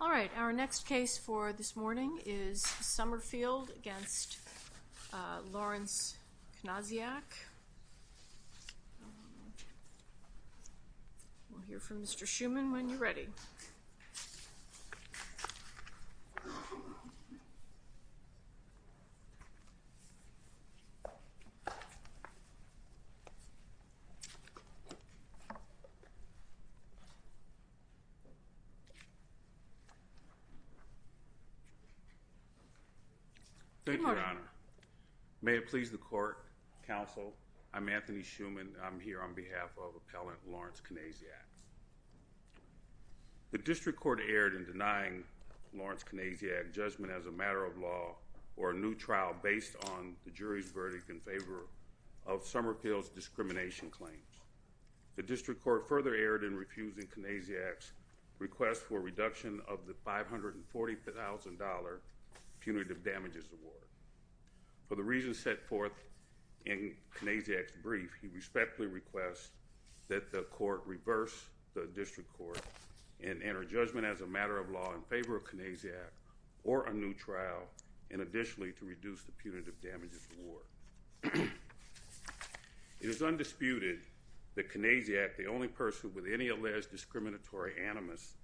All right, our next case for this morning is Sommerfield v. Lawrence Knasiak. We'll hear from Mr. Schuman when you're ready. Thank you, Your Honor. May it please the court, counsel, I'm Anthony Schuman. I'm here on behalf of Appellant Lawrence Knasiak. The district court erred in denying Lawrence Knasiak's judgment as a matter of law or a new trial based on the jury's verdict in favor of Sommerfield's discrimination claims. The district court further erred in refusing Knasiak's request for a reduction of the $540,000 punitive damages award. For the reasons set forth in Knasiak's brief, he respectfully requests that the court reverse the district court and enter judgment as a matter of law in favor of Knasiak or a new trial, and additionally to reduce the punitive damages award. It is undisputed that Knasiak, the only person with any alleged discriminatory animus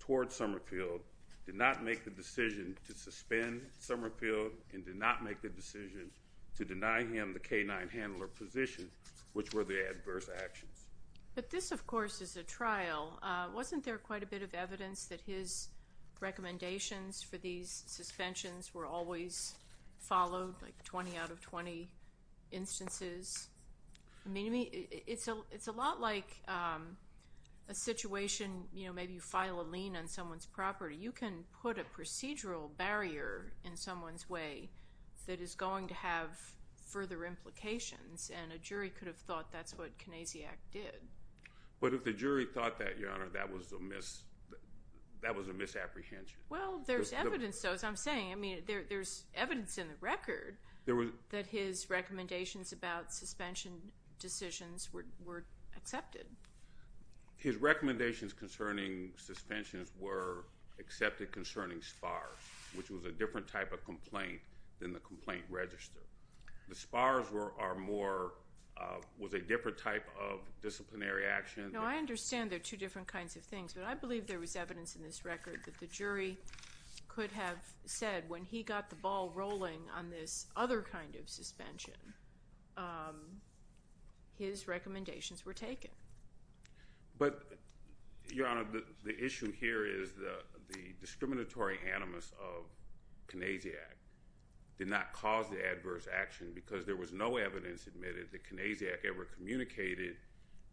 towards Sommerfield, did not make the decision to suspend Sommerfield and did not make the decision to deny him the canine handler position, which were the adverse actions. But this, of course, is a trial. Wasn't there quite a bit of evidence that his recommendations for these suspensions were always followed, like 20 out of 20 instances? I mean, it's a lot like a situation, you know, maybe you file a lien on someone's property. You can put a procedural barrier in someone's way that is going to have further implications, and a jury could have thought that's what Knasiak did. But if the jury thought that, Your Honor, that was a misapprehension. Well, there's evidence, though, as I'm saying. I mean, there's evidence in the record that his recommendations about suspension decisions were accepted. His recommendations concerning suspensions were accepted concerning SPARS, which was a different type of complaint than the complaint register. The SPARS were more, was a different type of disciplinary action. No, I understand they're two different kinds of things, but I believe there was evidence in this record that the jury could have said when he got the ball rolling on this other kind of suspension, his recommendations were taken. But, Your Honor, the issue here is the discriminatory animus of Knasiak did not cause the adverse action because there was no evidence admitted that Knasiak ever communicated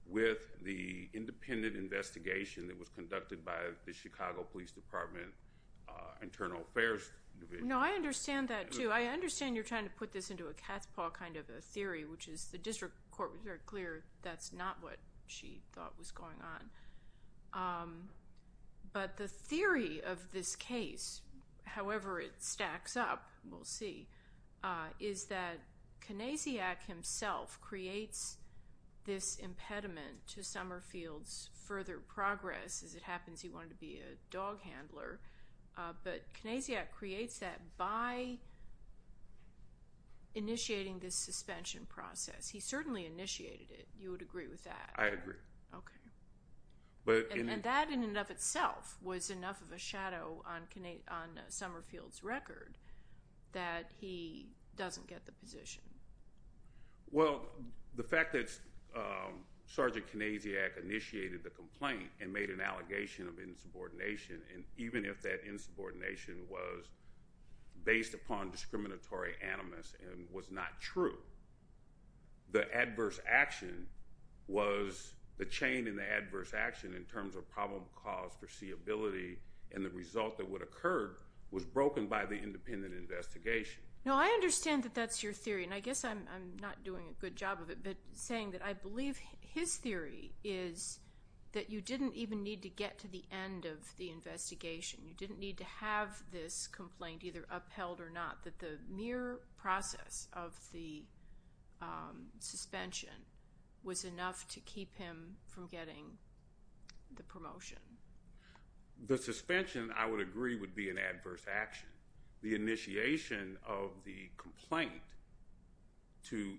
with the independent investigation that was conducted by the Chicago Police Department Internal Affairs Division. No, I understand that, too. I understand you're trying to put this into a cat's paw kind of a theory, which is the district court was very clear that's not what she thought was going on. But the theory of this case, however it stacks up, we'll see, is that Knasiak himself creates this impediment to Summerfield's further progress. As it happens, he wanted to be a dog handler. But Knasiak creates that by initiating this suspension process. He certainly initiated it. You would agree with that? I agree. Okay. And that in and of itself was enough of a shadow on Summerfield's record that he doesn't get the position. Well, the fact that Sergeant Knasiak initiated the complaint and made an allegation of insubordination, and even if that insubordination was based upon discriminatory animus and was not true, the adverse action was the chain in the adverse action in terms of problem caused foreseeability and the result that would occur was broken by the independent investigation. No, I understand that that's your theory, and I guess I'm not doing a good job of it, but saying that I believe his theory is that you didn't even need to get to the end of the investigation. You didn't need to have this complaint either upheld or not, that the mere process of the suspension was enough to keep him from getting the promotion. The suspension, I would agree, would be an adverse action. And the initiation of the complaint to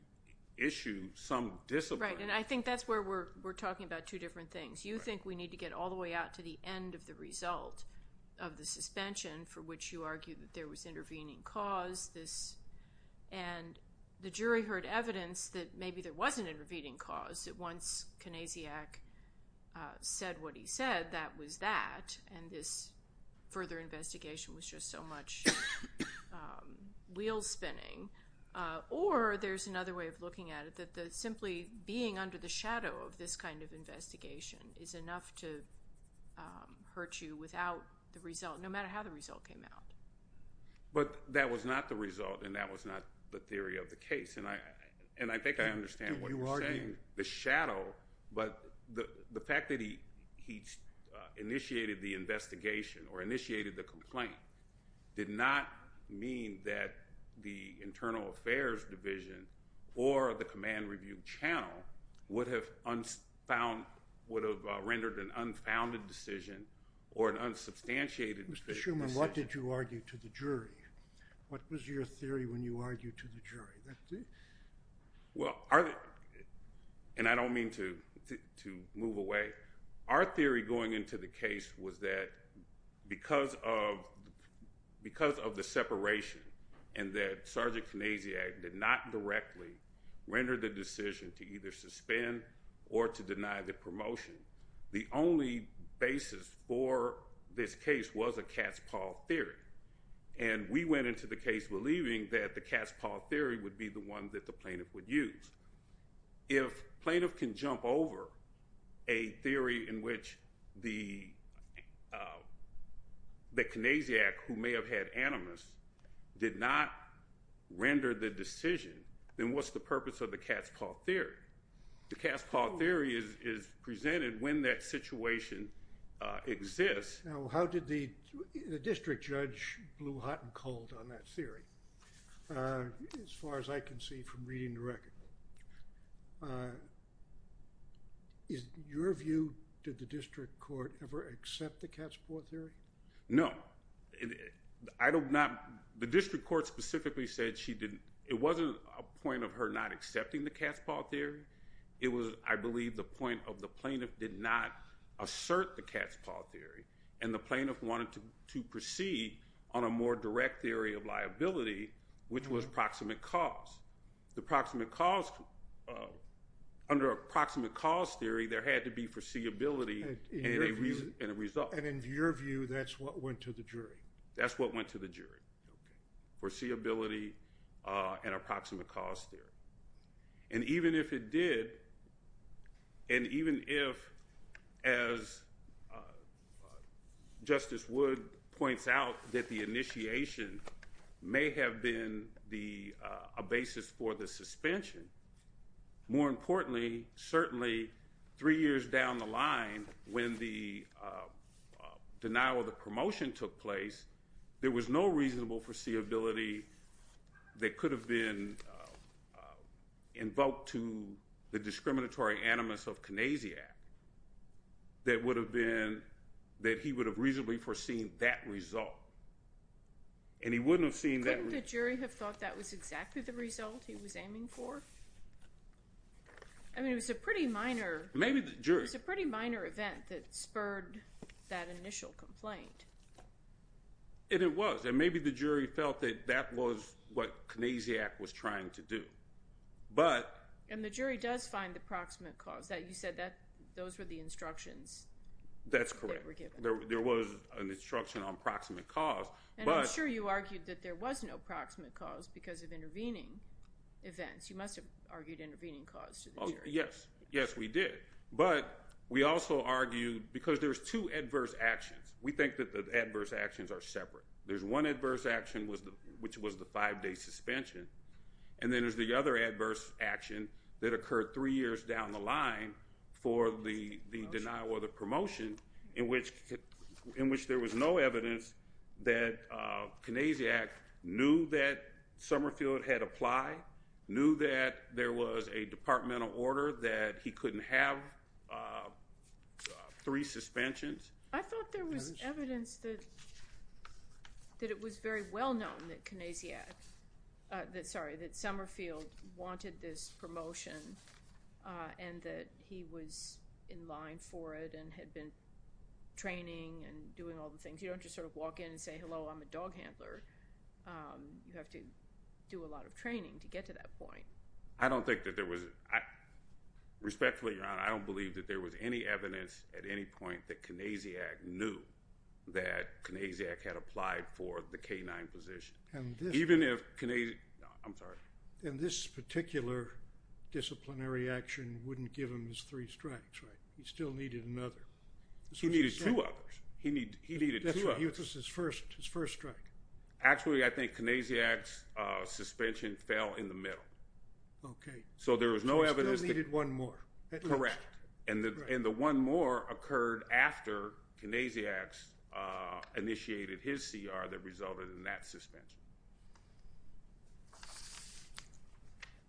issue some discipline. Right, and I think that's where we're talking about two different things. You think we need to get all the way out to the end of the result of the suspension, for which you argue that there was intervening cause, and the jury heard evidence that maybe there was an intervening cause. Once Konesiak said what he said, that was that, and this further investigation was just so much wheel spinning. Or there's another way of looking at it, that simply being under the shadow of this kind of investigation is enough to hurt you without the result, no matter how the result came out. But that was not the result, and that was not the theory of the case. And I think I understand what you're saying. The shadow, but the fact that he initiated the investigation or initiated the complaint, did not mean that the Internal Affairs Division or the Command Review Channel would have rendered an unfounded decision or an unsubstantiated decision. Mr. Shuman, what did you argue to the jury? What was your theory when you argued to the jury? Well, and I don't mean to move away. Our theory going into the case was that because of the separation and that Sergeant Konesiak did not directly render the decision to either suspend or to deny the promotion, the only basis for this case was a cat's paw theory. And we went into the case believing that the cat's paw theory would be the one that the plaintiff would use. If plaintiff can jump over a theory in which the Konesiak, who may have had animus, did not render the decision, then what's the purpose of the cat's paw theory? The cat's paw theory is presented when that situation exists. Now, how did the district judge blew hot and cold on that theory? As far as I can see from reading the record, is your view, did the district court ever accept the cat's paw theory? No. I don't know. The district court specifically said she didn't. It wasn't a point of her not accepting the cat's paw theory. It was, I believe, the point of the plaintiff did not assert the cat's paw theory, and the plaintiff wanted to proceed on a more direct theory of liability, which was proximate cause. Under approximate cause theory, there had to be foreseeability and a result. And in your view, that's what went to the jury? That's what went to the jury, foreseeability and approximate cause theory. And even if it did, and even if, as Justice Wood points out, that the initiation may have been a basis for the suspension, more importantly, certainly three years down the line when the denial of the promotion took place, there was no reasonable foreseeability that could have been invoked to the discriminatory animus of Canasiac that he would have reasonably foreseen that result, and he wouldn't have seen that result. Couldn't the jury have thought that was exactly the result he was aiming for? I mean, it was a pretty minor event that spurred that initial complaint. It was, and maybe the jury felt that that was what Canasiac was trying to do. And the jury does find the proximate cause. You said those were the instructions that were given. That's correct. There was an instruction on proximate cause. And I'm sure you argued that there was no proximate cause because of intervening events. You must have argued intervening cause to the jury. Yes, we did. But we also argued, because there's two adverse actions. We think that the adverse actions are separate. There's one adverse action, which was the five-day suspension, and then there's the other adverse action that occurred three years down the line for the denial of the promotion, in which there was no evidence that Canasiac knew that Summerfield had applied, knew that there was a departmental order that he couldn't have three suspensions. I thought there was evidence that it was very well known that Canasiac, sorry, that Summerfield wanted this promotion and that he was in line for it and had been training and doing all the things. You don't just sort of walk in and say, hello, I'm a dog handler. You have to do a lot of training to get to that point. I don't think that there was. Respectfully, Your Honor, I don't believe that there was any evidence at any point that Canasiac knew that Canasiac had applied for the K-9 position. Even if Canasiac, I'm sorry. And this particular disciplinary action wouldn't give him his three strikes, right? He still needed another. He needed two others. He needed two others. He was his first strike. Actually, I think Canasiac's suspension fell in the middle. Okay. So there was no evidence. He still needed one more. Correct. And the one more occurred after Canasiac initiated his CR that resulted in that suspension.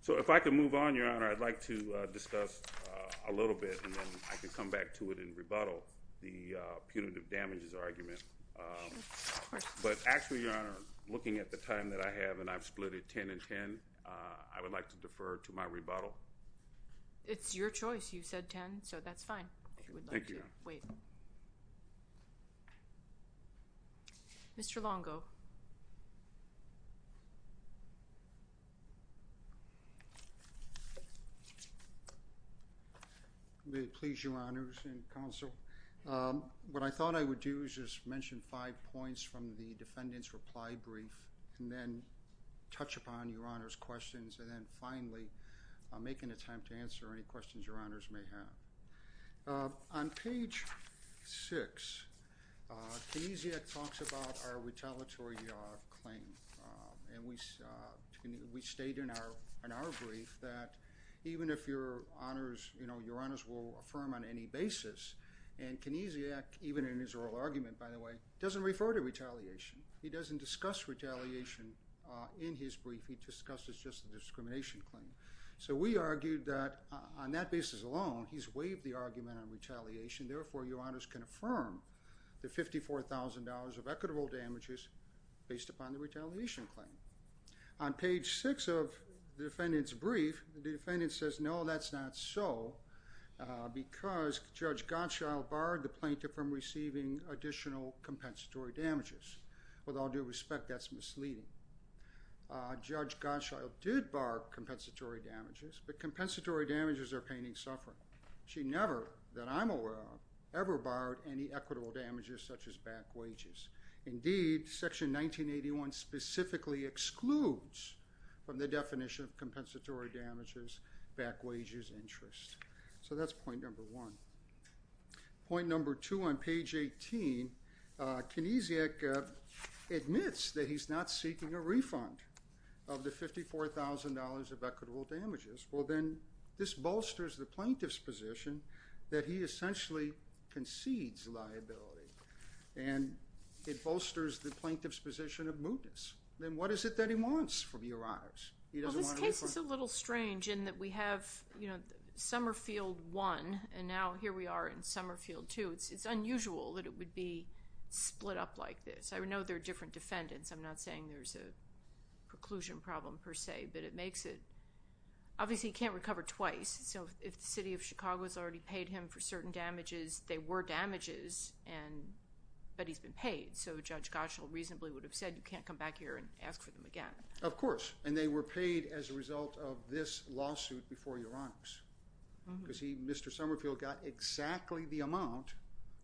So if I could move on, Your Honor, I'd like to discuss a little bit, and then I can come back to it in rebuttal, the punitive damages argument. But actually, Your Honor, looking at the time that I have, and I've split it 10 and 10, I would like to defer to my rebuttal. It's your choice. You said 10, so that's fine. Thank you, Your Honor. Wait. Mr. Longo. May it please Your Honors and Counsel, what I thought I would do is just mention five points from the defendant's reply brief and then touch upon Your Honor's questions and then finally make an attempt to answer any questions Your Honors may have. On page six, Canasiac talks about our retaliatory claim, and we state in our brief that even if Your Honors will affirm on any basis, and Canasiac, even in his oral argument, by the way, doesn't refer to retaliation. He doesn't discuss retaliation in his brief. He discusses just the discrimination claim. So we argued that on that basis alone, he's waived the argument on retaliation. Therefore, Your Honors can affirm the $54,000 of equitable damages based upon the retaliation claim. On page six of the defendant's brief, the defendant says, No, that's not so because Judge Gottschall barred the plaintiff from receiving additional compensatory damages. With all due respect, that's misleading. Judge Gottschall did bar compensatory damages, but compensatory damages are pain and suffering. She never, that I'm aware of, ever barred any equitable damages such as back wages. Indeed, section 1981 specifically excludes from the definition of compensatory damages back wages interest. So that's point number one. Point number two on page 18, Canasiac admits that he's not seeking a refund of the $54,000 of equitable damages. Well, then this bolsters the plaintiff's position that he essentially concedes liability. And it bolsters the plaintiff's position of mootness. Then what is it that he wants from Your Honors? He doesn't want a refund. Well, this case is a little strange in that we have, you know, Summerfield 1, and now here we are in Summerfield 2. It's unusual that it would be split up like this. I know there are different defendants. I'm not saying there's a preclusion problem per se, but it makes it, obviously he can't recover twice. So if the city of Chicago has already paid him for certain damages, they were damages, but he's been paid. So Judge Goschel reasonably would have said you can't come back here and ask for them again. Of course, and they were paid as a result of this lawsuit before Your Honors. Because Mr. Summerfield got exactly the amount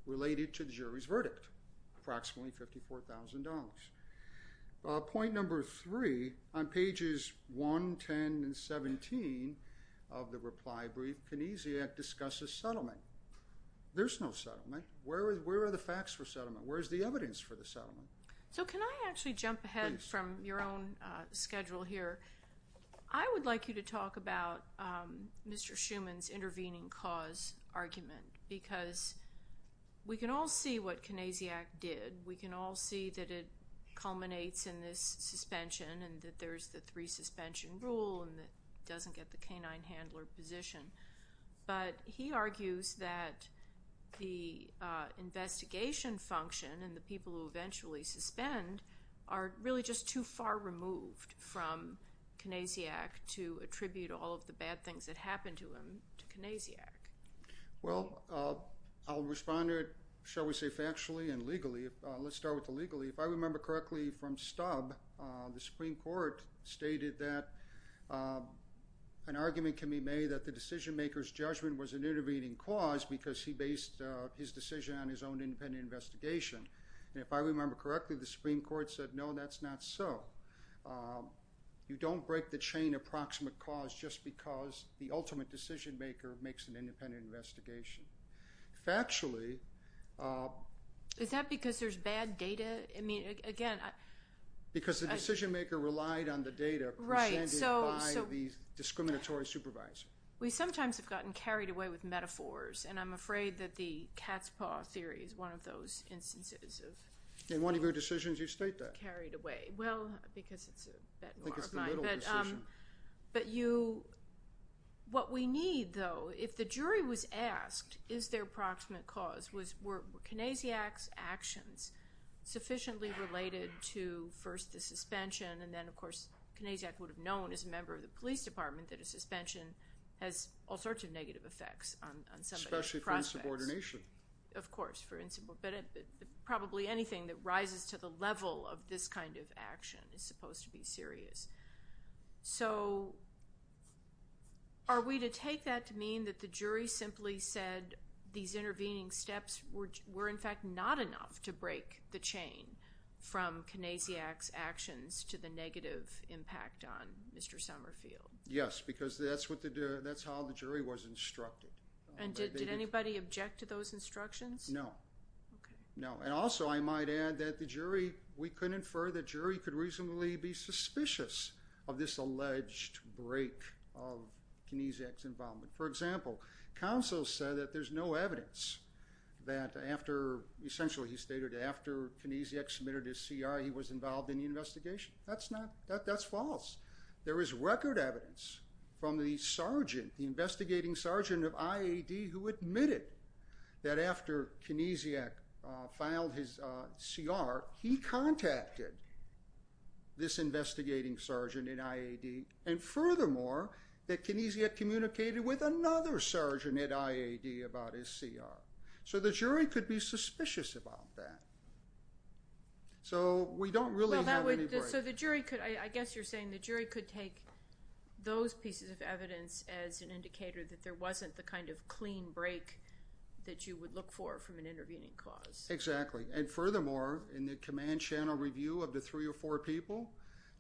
related to the jury's verdict, approximately $54,000. Point number three, on pages 1, 10, and 17 of the reply brief, Kinesiak discusses settlement. There's no settlement. Where are the facts for settlement? Where is the evidence for the settlement? So can I actually jump ahead from your own schedule here? I would like you to talk about Mr. Schuman's intervening cause argument because we can all see what Kinesiak did. We can all see that it culminates in this suspension and that there's the three suspension rule and that he doesn't get the canine handler position. But he argues that the investigation function and the people who eventually suspend are really just too far removed from Kinesiak to attribute all of the bad things that happened to him to Kinesiak. Well, I'll respond to it, shall we say, factually and legally. Let's start with the legally. If I remember correctly from Stubb, the Supreme Court stated that an argument can be made that the decision maker's judgment was an intervening cause because he based his decision on his own independent investigation. And if I remember correctly, the Supreme Court said, no, that's not so. You don't break the chain of proximate cause just because the ultimate decision maker makes an independent investigation. Factually- Is that because there's bad data? I mean, again- Because the decision maker relied on the data presented by the discriminatory supervisor. We sometimes have gotten carried away with metaphors, and I'm afraid that the cat's paw theory is one of those instances of- In one of your decisions you state that. You get carried away. Well, because it's a bit more of my- I think it's the little decision. But what we need, though, if the jury was asked, is there proximate cause, were Kinesiak's actions sufficiently related to, first, the suspension, and then, of course, Kinesiak would have known as a member of the police department that a suspension has all sorts of negative effects on somebody's prospects. Especially for insubordination. Of course, for insubordination. Probably anything that rises to the level of this kind of action is supposed to be serious. So are we to take that to mean that the jury simply said these intervening steps were, in fact, not enough to break the chain from Kinesiak's actions to the negative impact on Mr. Summerfield? Yes, because that's how the jury was instructed. And did anybody object to those instructions? No. Okay. No. And also I might add that the jury, we could infer the jury could reasonably be suspicious of this alleged break of Kinesiak's involvement. For example, counsel said that there's no evidence that after, essentially he stated, after Kinesiak submitted his C.I. he was involved in the investigation. That's not, that's false. There is record evidence from the sergeant, the investigating sergeant of I.A.D. who admitted that after Kinesiak filed his C.R. he contacted this investigating sergeant in I.A.D. and furthermore that Kinesiak communicated with another sergeant at I.A.D. about his C.R. So the jury could be suspicious about that. So we don't really have any break. So the jury could, I guess you're saying the jury could take those pieces of evidence as an indicator that there wasn't the kind of clean break that you would look for from an intervening cause. Exactly. And furthermore, in the command channel review of the three or four people,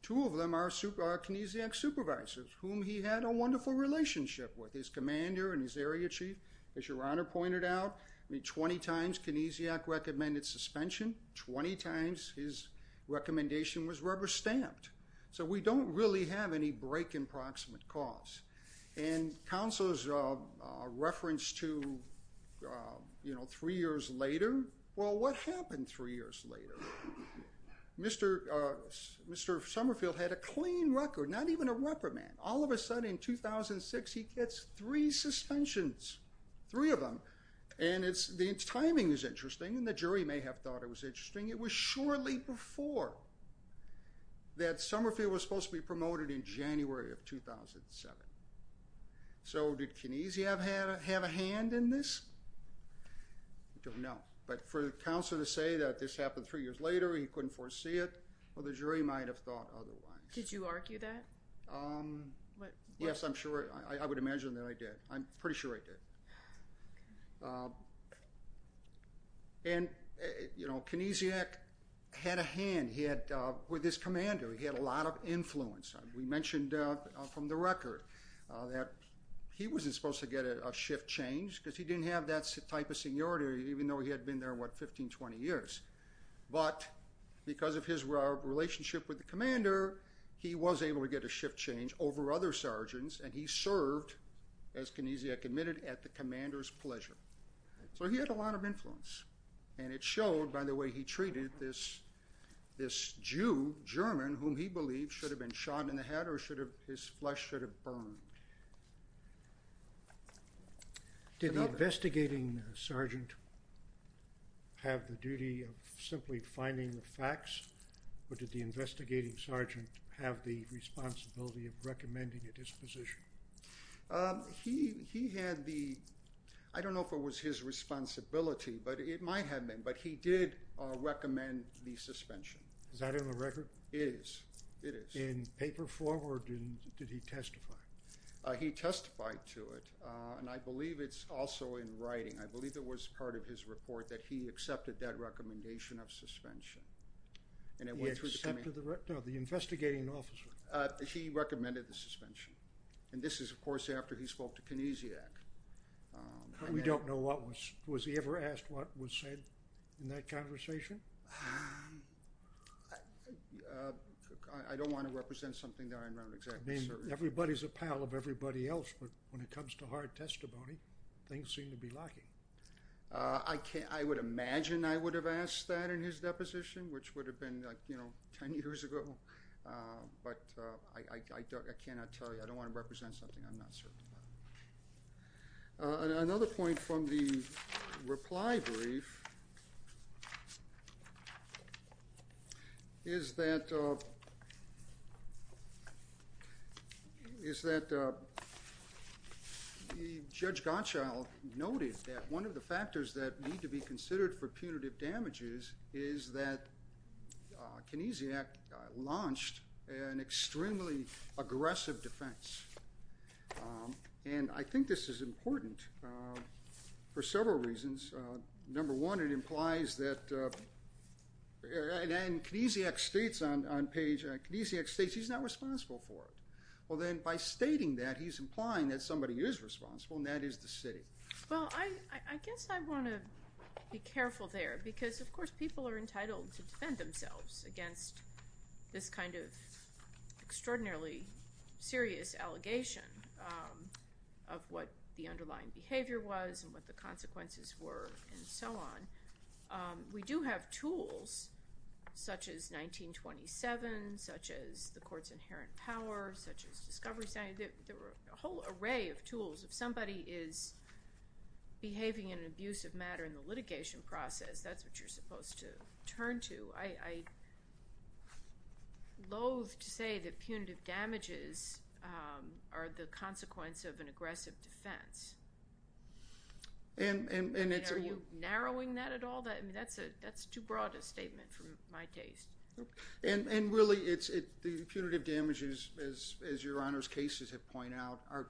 two of them are Kinesiak's supervisors whom he had a wonderful relationship with, his commander and his area chief. As Your Honor pointed out, 20 times Kinesiak recommended suspension, 20 times his recommendation was rubber stamped. So we don't really have any break in proximate cause. And counsel's reference to, you know, three years later, well, what happened three years later? Mr. Summerfield had a clean record, not even a reprimand. All of a sudden in 2006 he gets three suspensions, three of them. And the timing is interesting, and the jury may have thought it was interesting. It was shortly before that Summerfield was supposed to be promoted in January of 2007. So did Kinesiak have a hand in this? I don't know. But for counsel to say that this happened three years later, he couldn't foresee it, well, the jury might have thought otherwise. Did you argue that? Yes, I'm sure. I would imagine that I did. I'm pretty sure I did. And, you know, Kinesiak had a hand with his commander. He had a lot of influence. We mentioned from the record that he wasn't supposed to get a shift change because he didn't have that type of seniority even though he had been there, what, 15, 20 years. But because of his relationship with the commander, he was able to get a shift change over other sergeants, and he served, as Kinesiak admitted, at the commander's pleasure. So he had a lot of influence. And it showed by the way he treated this Jew, German, whom he believed should have been shot in the head or his flesh should have burned. Did the investigating sergeant have the duty of simply finding the facts or did the investigating sergeant have the responsibility of recommending at his position? He had the—I don't know if it was his responsibility, but it might have been. But he did recommend the suspension. Is that in the record? It is. It is. In paper form or did he testify? He testified to it, and I believe it's also in writing. I believe it was part of his report that he accepted that recommendation of suspension. He accepted the—no, the investigating officer. He recommended the suspension, and this is, of course, after he spoke to Kinesiak. We don't know what was—was he ever asked what was said in that conversation? I don't want to represent something that I'm not exactly certain. Everybody's a pal of everybody else, but when it comes to hard testimony, things seem to be lacking. I would imagine I would have asked that in his deposition, which would have been like, you know, 10 years ago. But I cannot tell you. I don't want to represent something I'm not certain about. Another point from the reply brief is that Judge Gottschall noted that one of the factors that need to be considered for punitive damages is that Kinesiak launched an extremely aggressive defense. And I think this is important for several reasons. Number one, it implies that—and Kinesiak states on page—Kinesiak states he's not responsible for it. Well, then by stating that, he's implying that somebody is responsible, and that is the city. Well, I guess I want to be careful there because, of course, people are entitled to defend themselves against this kind of extraordinarily serious allegation of what the underlying behavior was and what the consequences were and so on. We do have tools, such as 1927, such as the court's inherent power, such as Discovery Center. There are a whole array of tools. If somebody is behaving in an abusive manner in the litigation process, that's what you're supposed to turn to. I loathe to say that punitive damages are the consequence of an aggressive defense. Are you narrowing that at all? That's too broad a statement for my taste. And really, the punitive damages, as Your Honor's cases have pointed out, are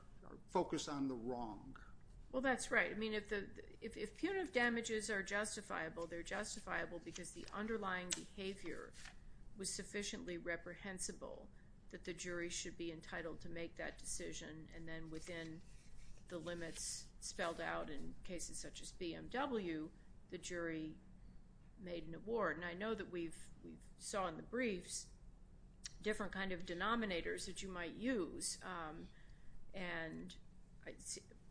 focused on the wrong. Well, that's right. I mean, if punitive damages are justifiable, they're justifiable because the underlying behavior was sufficiently reprehensible that the jury should be entitled to make that decision, and then within the limits spelled out in cases such as BMW, the jury made an award. And I know that we saw in the briefs different kind of denominators that you might use. And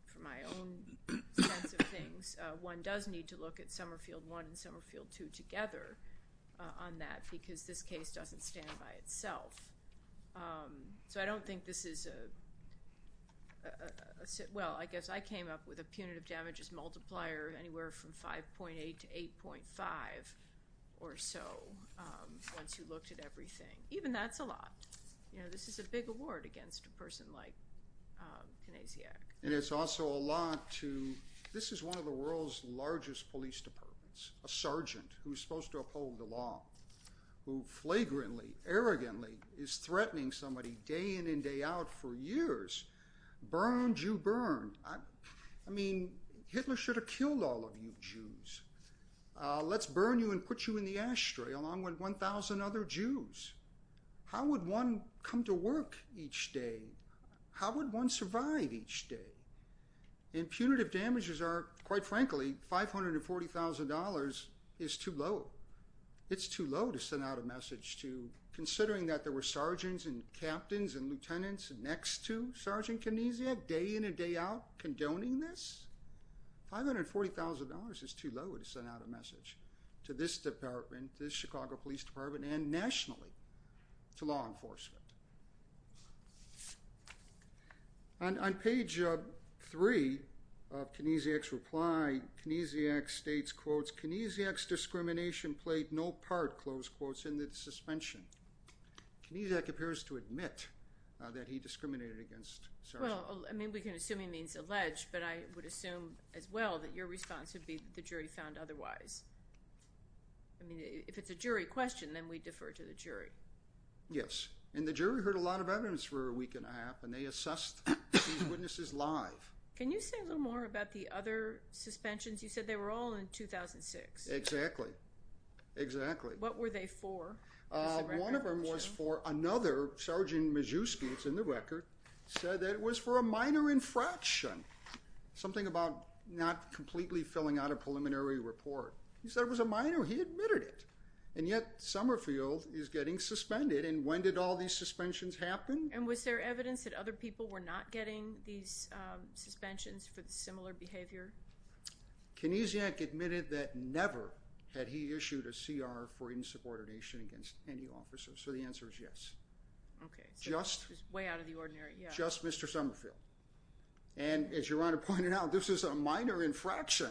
from my own sense of things, one does need to look at Somerfield I and Somerfield II together on that because this case doesn't stand by itself. So I don't think this is a – well, I guess I came up with a punitive damages multiplier anywhere from 5.8 to 8.5 or so once you looked at everything. Even that's a lot. You know, this is a big award against a person like Knesiak. And it's also a lot to – this is one of the world's largest police departments, a sergeant who's supposed to uphold the law, who flagrantly, arrogantly is threatening somebody day in and day out for years. Burn, Jew, burn. I mean, Hitler should have killed all of you Jews. Let's burn you and put you in the ashtray along with 1,000 other Jews. How would one come to work each day? How would one survive each day? And punitive damages are, quite frankly, $540,000 is too low. It's too low to send out a message to – considering that there were sergeants and captains and lieutenants next to Sergeant Knesiak day in and day out condoning this, $540,000 is too low to send out a message to this department, this Chicago Police Department, and nationally to law enforcement. On page 3 of Knesiak's reply, Knesiak states, quotes, Knesiak's discrimination played no part, close quotes, in the suspension. Knesiak appears to admit that he discriminated against Sergeant Knesiak. Well, I mean, we can assume he means alleged, but I would assume as well that your response would be the jury found otherwise. I mean, if it's a jury question, then we defer to the jury. Yes, and the jury heard a lot of evidence for a week and a half, and they assessed these witnesses live. Can you say a little more about the other suspensions? You said they were all in 2006. Exactly. Exactly. What were they for? One of them was for another Sergeant Majewski, it's in the record, said that it was for a minor infraction, something about not completely filling out a preliminary report. He said it was a minor. He admitted it. And yet, Summerfield is getting suspended, and when did all these suspensions happen? And was there evidence that other people were not getting these suspensions for the similar behavior? Knesiak admitted that never had he issued a CR for insubordination against any officer, so the answer is yes. Okay, so just way out of the ordinary. Just Mr. Summerfield. And as Your Honor pointed out, this is a minor infraction.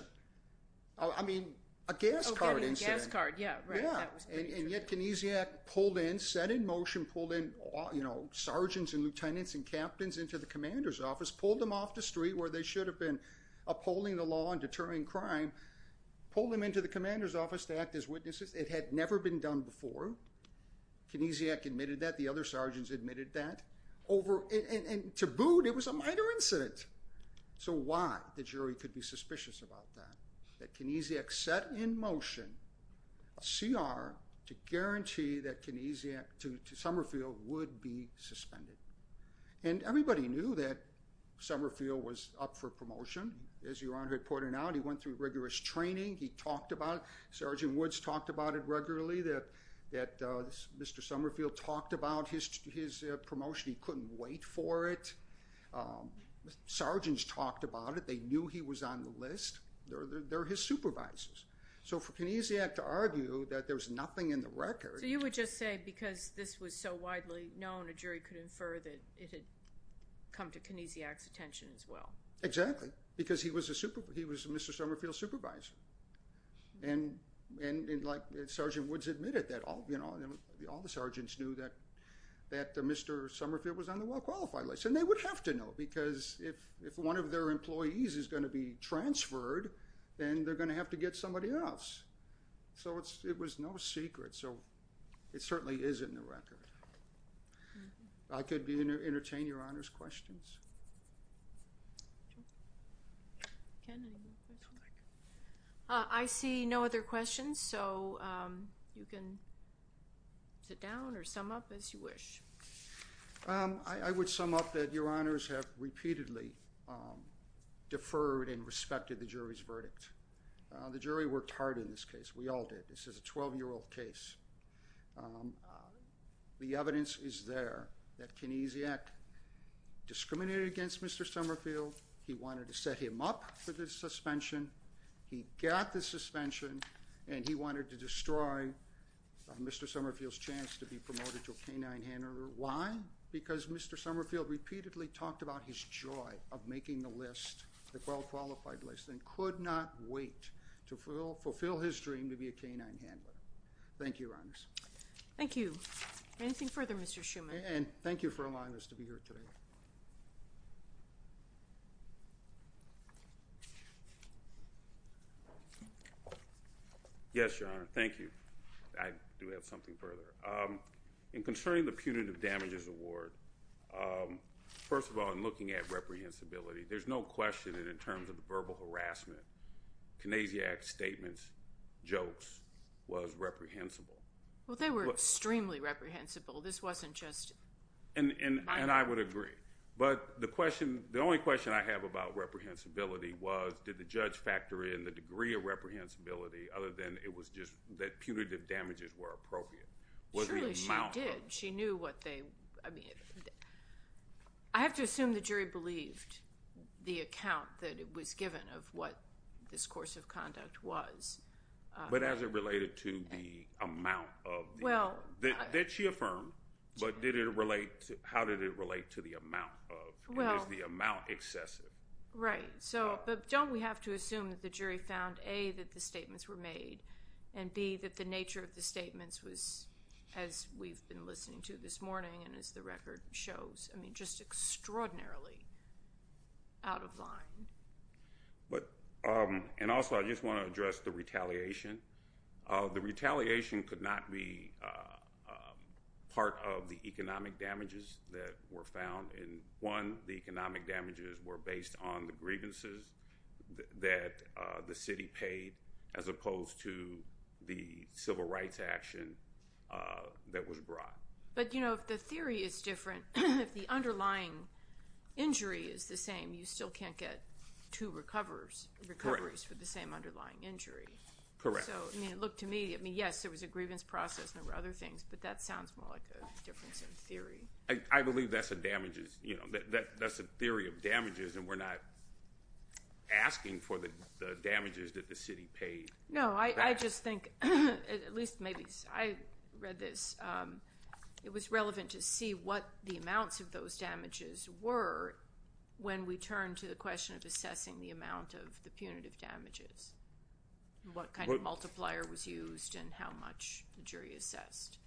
I mean, a gas card incident. Oh, getting a gas card, yeah, right. And yet Knesiak pulled in, set in motion, pulled in, you know, sergeants and lieutenants and captains into the commander's office, pulled them off the street where they should have been upholding the law and deterring crime, pulled them into the commander's office to act as witnesses. It had never been done before. Knesiak admitted that. The other sergeants admitted that. And to boot, it was a minor incident. So why? The jury could be suspicious about that. That Knesiak set in motion a CR to guarantee that Knesiak to Summerfield would be suspended. And everybody knew that Summerfield was up for promotion. As Your Honor pointed out, he went through rigorous training. He talked about it. Sergeant Woods talked about it regularly, that Mr. Summerfield talked about his promotion. He couldn't wait for it. Sergeants talked about it. They knew he was on the list. They're his supervisors. So for Knesiak to argue that there's nothing in the record. So you would just say because this was so widely known, a jury could infer that it had come to Knesiak's attention as well. Exactly, because he was Mr. Summerfield's supervisor. And Sergeant Woods admitted that. All the sergeants knew that Mr. Summerfield was on the well-qualified list. And they would have to know because if one of their employees is going to be transferred, then they're going to have to get somebody else. So it was no secret. So it certainly is in the record. I could entertain Your Honor's questions. Ken, any more questions? I see no other questions, so you can sit down or sum up as you wish. I would sum up that Your Honors have repeatedly deferred and respected the jury's verdict. The jury worked hard in this case. We all did. This is a 12-year-old case. The evidence is there that Knesiak discriminated against Mr. Summerfield. He wanted to set him up for the suspension. He got the suspension. And he wanted to destroy Mr. Summerfield's chance to be promoted to a K-9 handler. Why? Because Mr. Summerfield repeatedly talked about his joy of making the list, the well-qualified list, and could not wait to fulfill his dream to be a K-9 handler. Thank you, Your Honors. Thank you. Anything further, Mr. Schuman? And thank you for allowing us to be here today. Yes, Your Honor. Thank you. I do have something further. In concerning the Punitive Damages Award, first of all, in looking at reprehensibility, there's no question that in terms of the verbal harassment, Knesiak's statements, jokes, was reprehensible. Well, they were extremely reprehensible. This wasn't just my argument. And I would agree. But the only question I have about reprehensibility was, did the judge factor in the degree of reprehensibility other than it was just that punitive damages were appropriate? Surely she did. She knew what they – I mean, this course of conduct was. But as it related to the amount of the award. Did she affirm? But did it relate to – how did it relate to the amount of? Was the amount excessive? Right. But don't we have to assume that the jury found, A, that the statements were made, and, B, that the nature of the statements was, as we've been listening to this morning and as the record shows, I mean, just extraordinarily out of line. But – and also I just want to address the retaliation. The retaliation could not be part of the economic damages that were found. And, one, the economic damages were based on the grievances that the city paid as opposed to the civil rights action that was brought. But, you know, if the theory is different, if the underlying injury is the same, you still can't get two recoveries for the same underlying injury. Correct. So, I mean, it looked to me – I mean, yes, there was a grievance process and there were other things, but that sounds more like a difference in theory. I believe that's a damages – you know, that's a theory of damages, and we're not asking for the damages that the city paid. No, I just think – at least maybe – I read this. It was relevant to see what the amounts of those damages were when we turned to the question of assessing the amount of the punitive damages and what kind of multiplier was used and how much the jury assessed.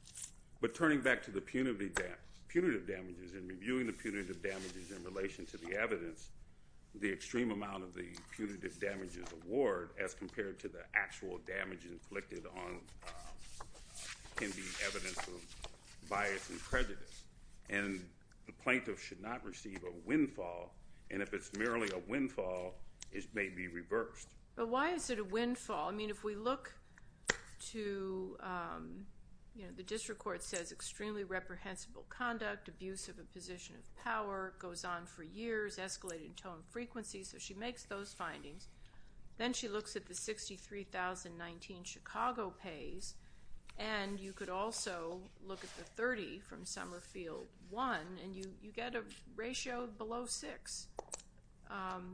But turning back to the punitive damages and reviewing the punitive damages in relation to the evidence, the extreme amount of the punitive damages award as compared to the actual damages inflicted on – can be evidence of bias and prejudice. And the plaintiff should not receive a windfall, and if it's merely a windfall, it may be reversed. But why is it a windfall? I mean, if we look to – you know, the district court says extremely reprehensible conduct, abuse of a position of power, goes on for years, escalated in tone and frequency, so she makes those findings. Then she looks at the $63,019 Chicago pays, and you could also look at the $30,000 from Summerfield 1, and you get a ratio below 6,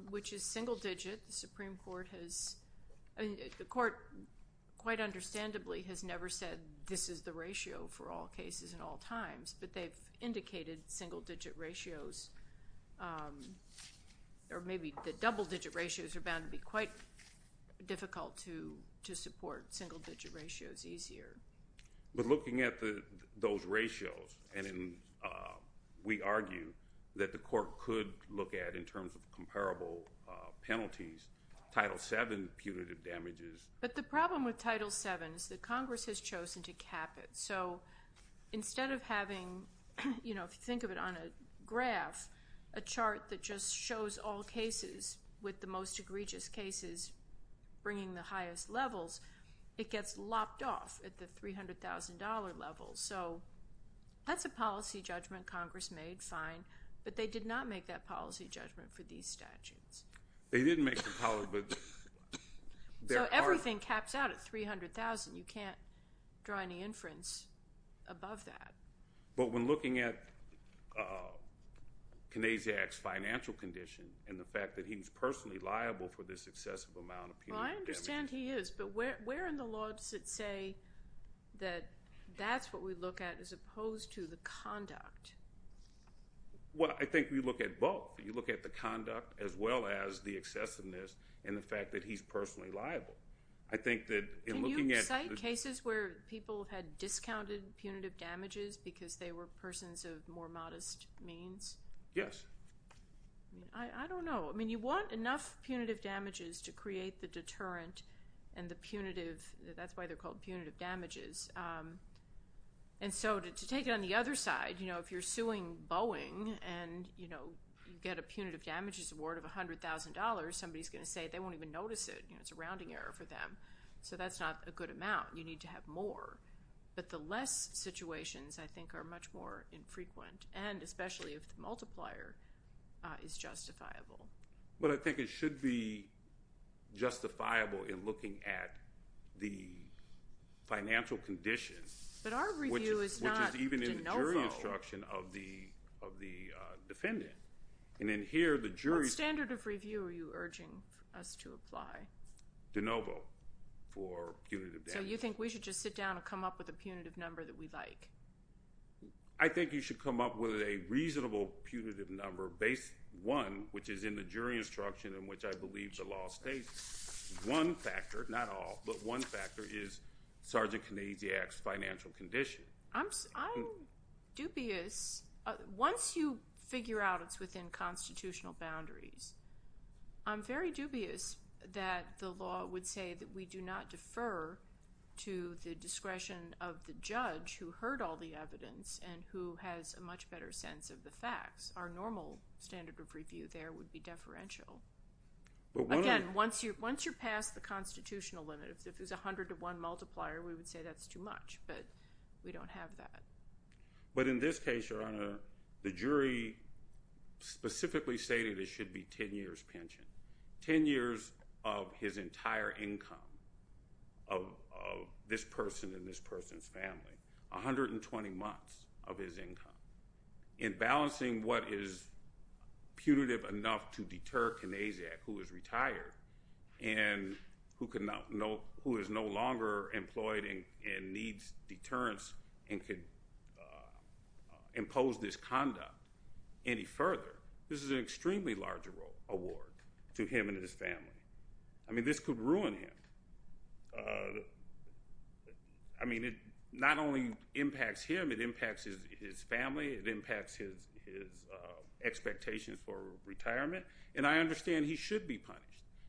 which is single digit. The Supreme Court has – I mean, the court, quite understandably, has never said this is the ratio for all cases and all times, but they've indicated single digit ratios or maybe the double digit ratios are bound to be quite difficult to support single digit ratios easier. But looking at those ratios, and we argue that the court could look at, in terms of comparable penalties, Title VII punitive damages. But the problem with Title VII is that Congress has chosen to cap it. So instead of having – you know, if you think of it on a graph, a chart that just shows all cases with the most egregious cases bringing the highest levels, it gets lopped off at the $300,000 level. So that's a policy judgment Congress made, fine, but they did not make that policy judgment for these statutes. They didn't make the – So everything caps out at $300,000. You can't draw any inference above that. But when looking at Kanaziak's financial condition and the fact that he's personally liable for this excessive amount of punitive damages – Well, I understand he is, but where in the law does it say that that's what we look at as opposed to the conduct? Well, I think we look at both. You look at the conduct as well as the excessiveness and the fact that he's personally liable. I think that in looking at – Can you cite cases where people had discounted punitive damages because they were persons of more modest means? Yes. I don't know. I mean, you want enough punitive damages to create the deterrent and the punitive – that's why they're called punitive damages. And so to take it on the other side, you know, if you're suing Boeing and, you know, you get a punitive damages award of $100,000, somebody's going to say they won't even notice it. You know, it's a rounding error for them. So that's not a good amount. You need to have more. But the less situations, I think, are much more infrequent, and especially if the multiplier is justifiable. But I think it should be justifiable in looking at the financial condition, which is even in the jury instruction of the defendant. And in here, the jury's – What standard of review are you urging us to apply? De novo for punitive damages. So you think we should just sit down and come up with a punitive number that we like? I think you should come up with a reasonable punitive number based, one, which is in the jury instruction in which I believe the law states, one factor, not all, but one factor is Sergeant Kanasiak's financial condition. I'm dubious. Once you figure out it's within constitutional boundaries, I'm very dubious that the law would say that we do not defer to the discretion of the judge who heard all the evidence and who has a much better sense of the facts. Our normal standard of review there would be deferential. Again, once you're past the constitutional limit, if it's 100 to 1 multiplier, we would say that's too much. But we don't have that. But in this case, Your Honor, the jury specifically stated it should be 10 years pension, 10 years of his entire income of this person and this person's family, 120 months of his income. In balancing what is punitive enough to deter Kanasiak, who is retired, and who is no longer employed and needs deterrence and could impose this conduct any further, this is an extremely large award to him and his family. I mean, this could ruin him. I mean, it not only impacts him, it impacts his family. It impacts his expectations for retirement. And I understand he should be punished.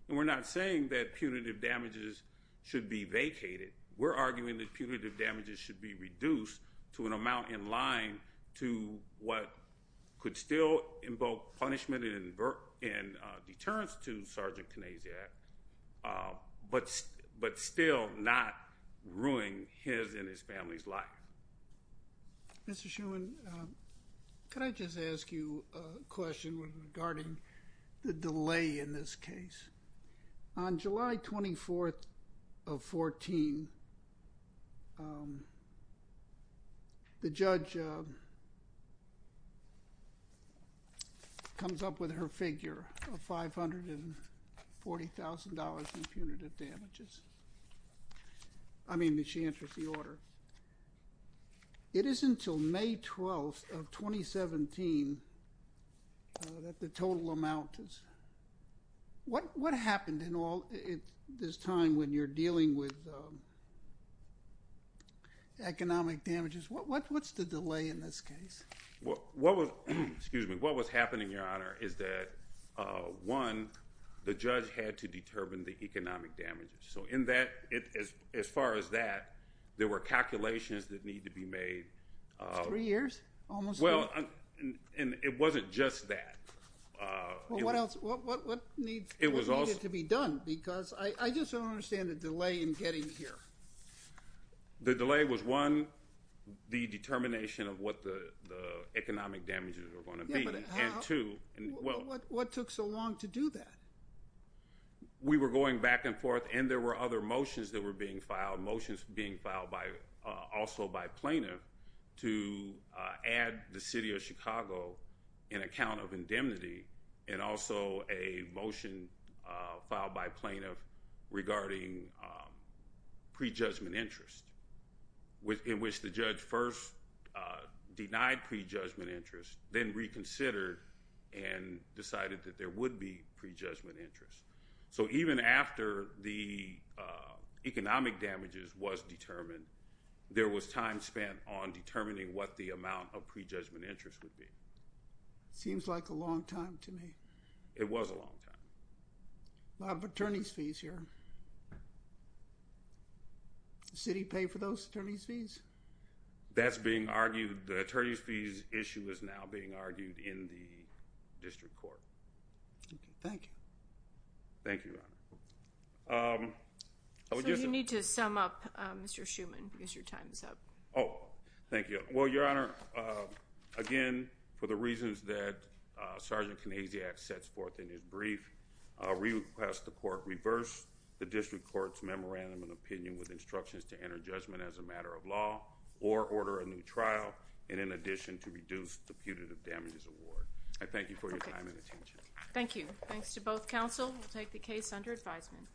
And we're not saying that punitive damages should be vacated. We're arguing that punitive damages should be reduced to an amount in line to what could still invoke punishment and deterrence to Sergeant Kanasiak, but still not ruining his and his family's life. Mr. Shuman, could I just ask you a question regarding the delay in this case? On July 24th of 2014, the judge comes up with her figure of $540,000 in punitive damages. I mean, the chance of the order. It isn't until May 12th of 2017 that the total amount is. What happened in all this time when you're dealing with economic damages? What's the delay in this case? What was happening, Your Honor, is that, one, the judge had to determine the economic damages. So in that, as far as that, there were calculations that needed to be made. Three years? Almost three? Well, and it wasn't just that. Well, what else? What needed to be done? Because I just don't understand the delay in getting here. The delay was, one, the determination of what the economic damages were going to be. Yeah, but how? And two, well. What took so long to do that? We were going back and forth, and there were other motions that were being filed, motions being filed also by plaintiff to add the city of Chicago in account of indemnity and also a motion filed by plaintiff regarding prejudgment interest, in which the judge first denied prejudgment interest, then reconsidered and decided that there would be prejudgment interest. So even after the economic damages was determined, there was time spent on determining what the amount of prejudgment interest would be. Seems like a long time to me. It was a long time. A lot of attorney's fees here. Does the city pay for those attorney's fees? That's being argued. The attorney's fees issue is now being argued in the district court. Thank you. Thank you, Your Honor. So you need to sum up, Mr. Schuman, because your time is up. Oh, thank you. Well, Your Honor, again, for the reasons that Sergeant Kanasiak sets forth in his brief, we request the court reverse the district court's memorandum of opinion with instructions to enter judgment as a matter of law or order a new trial, and in addition to reduce the putative damages award. I thank you for your time and attention. Thank you. Thanks to both counsel. We'll take the case under advisement.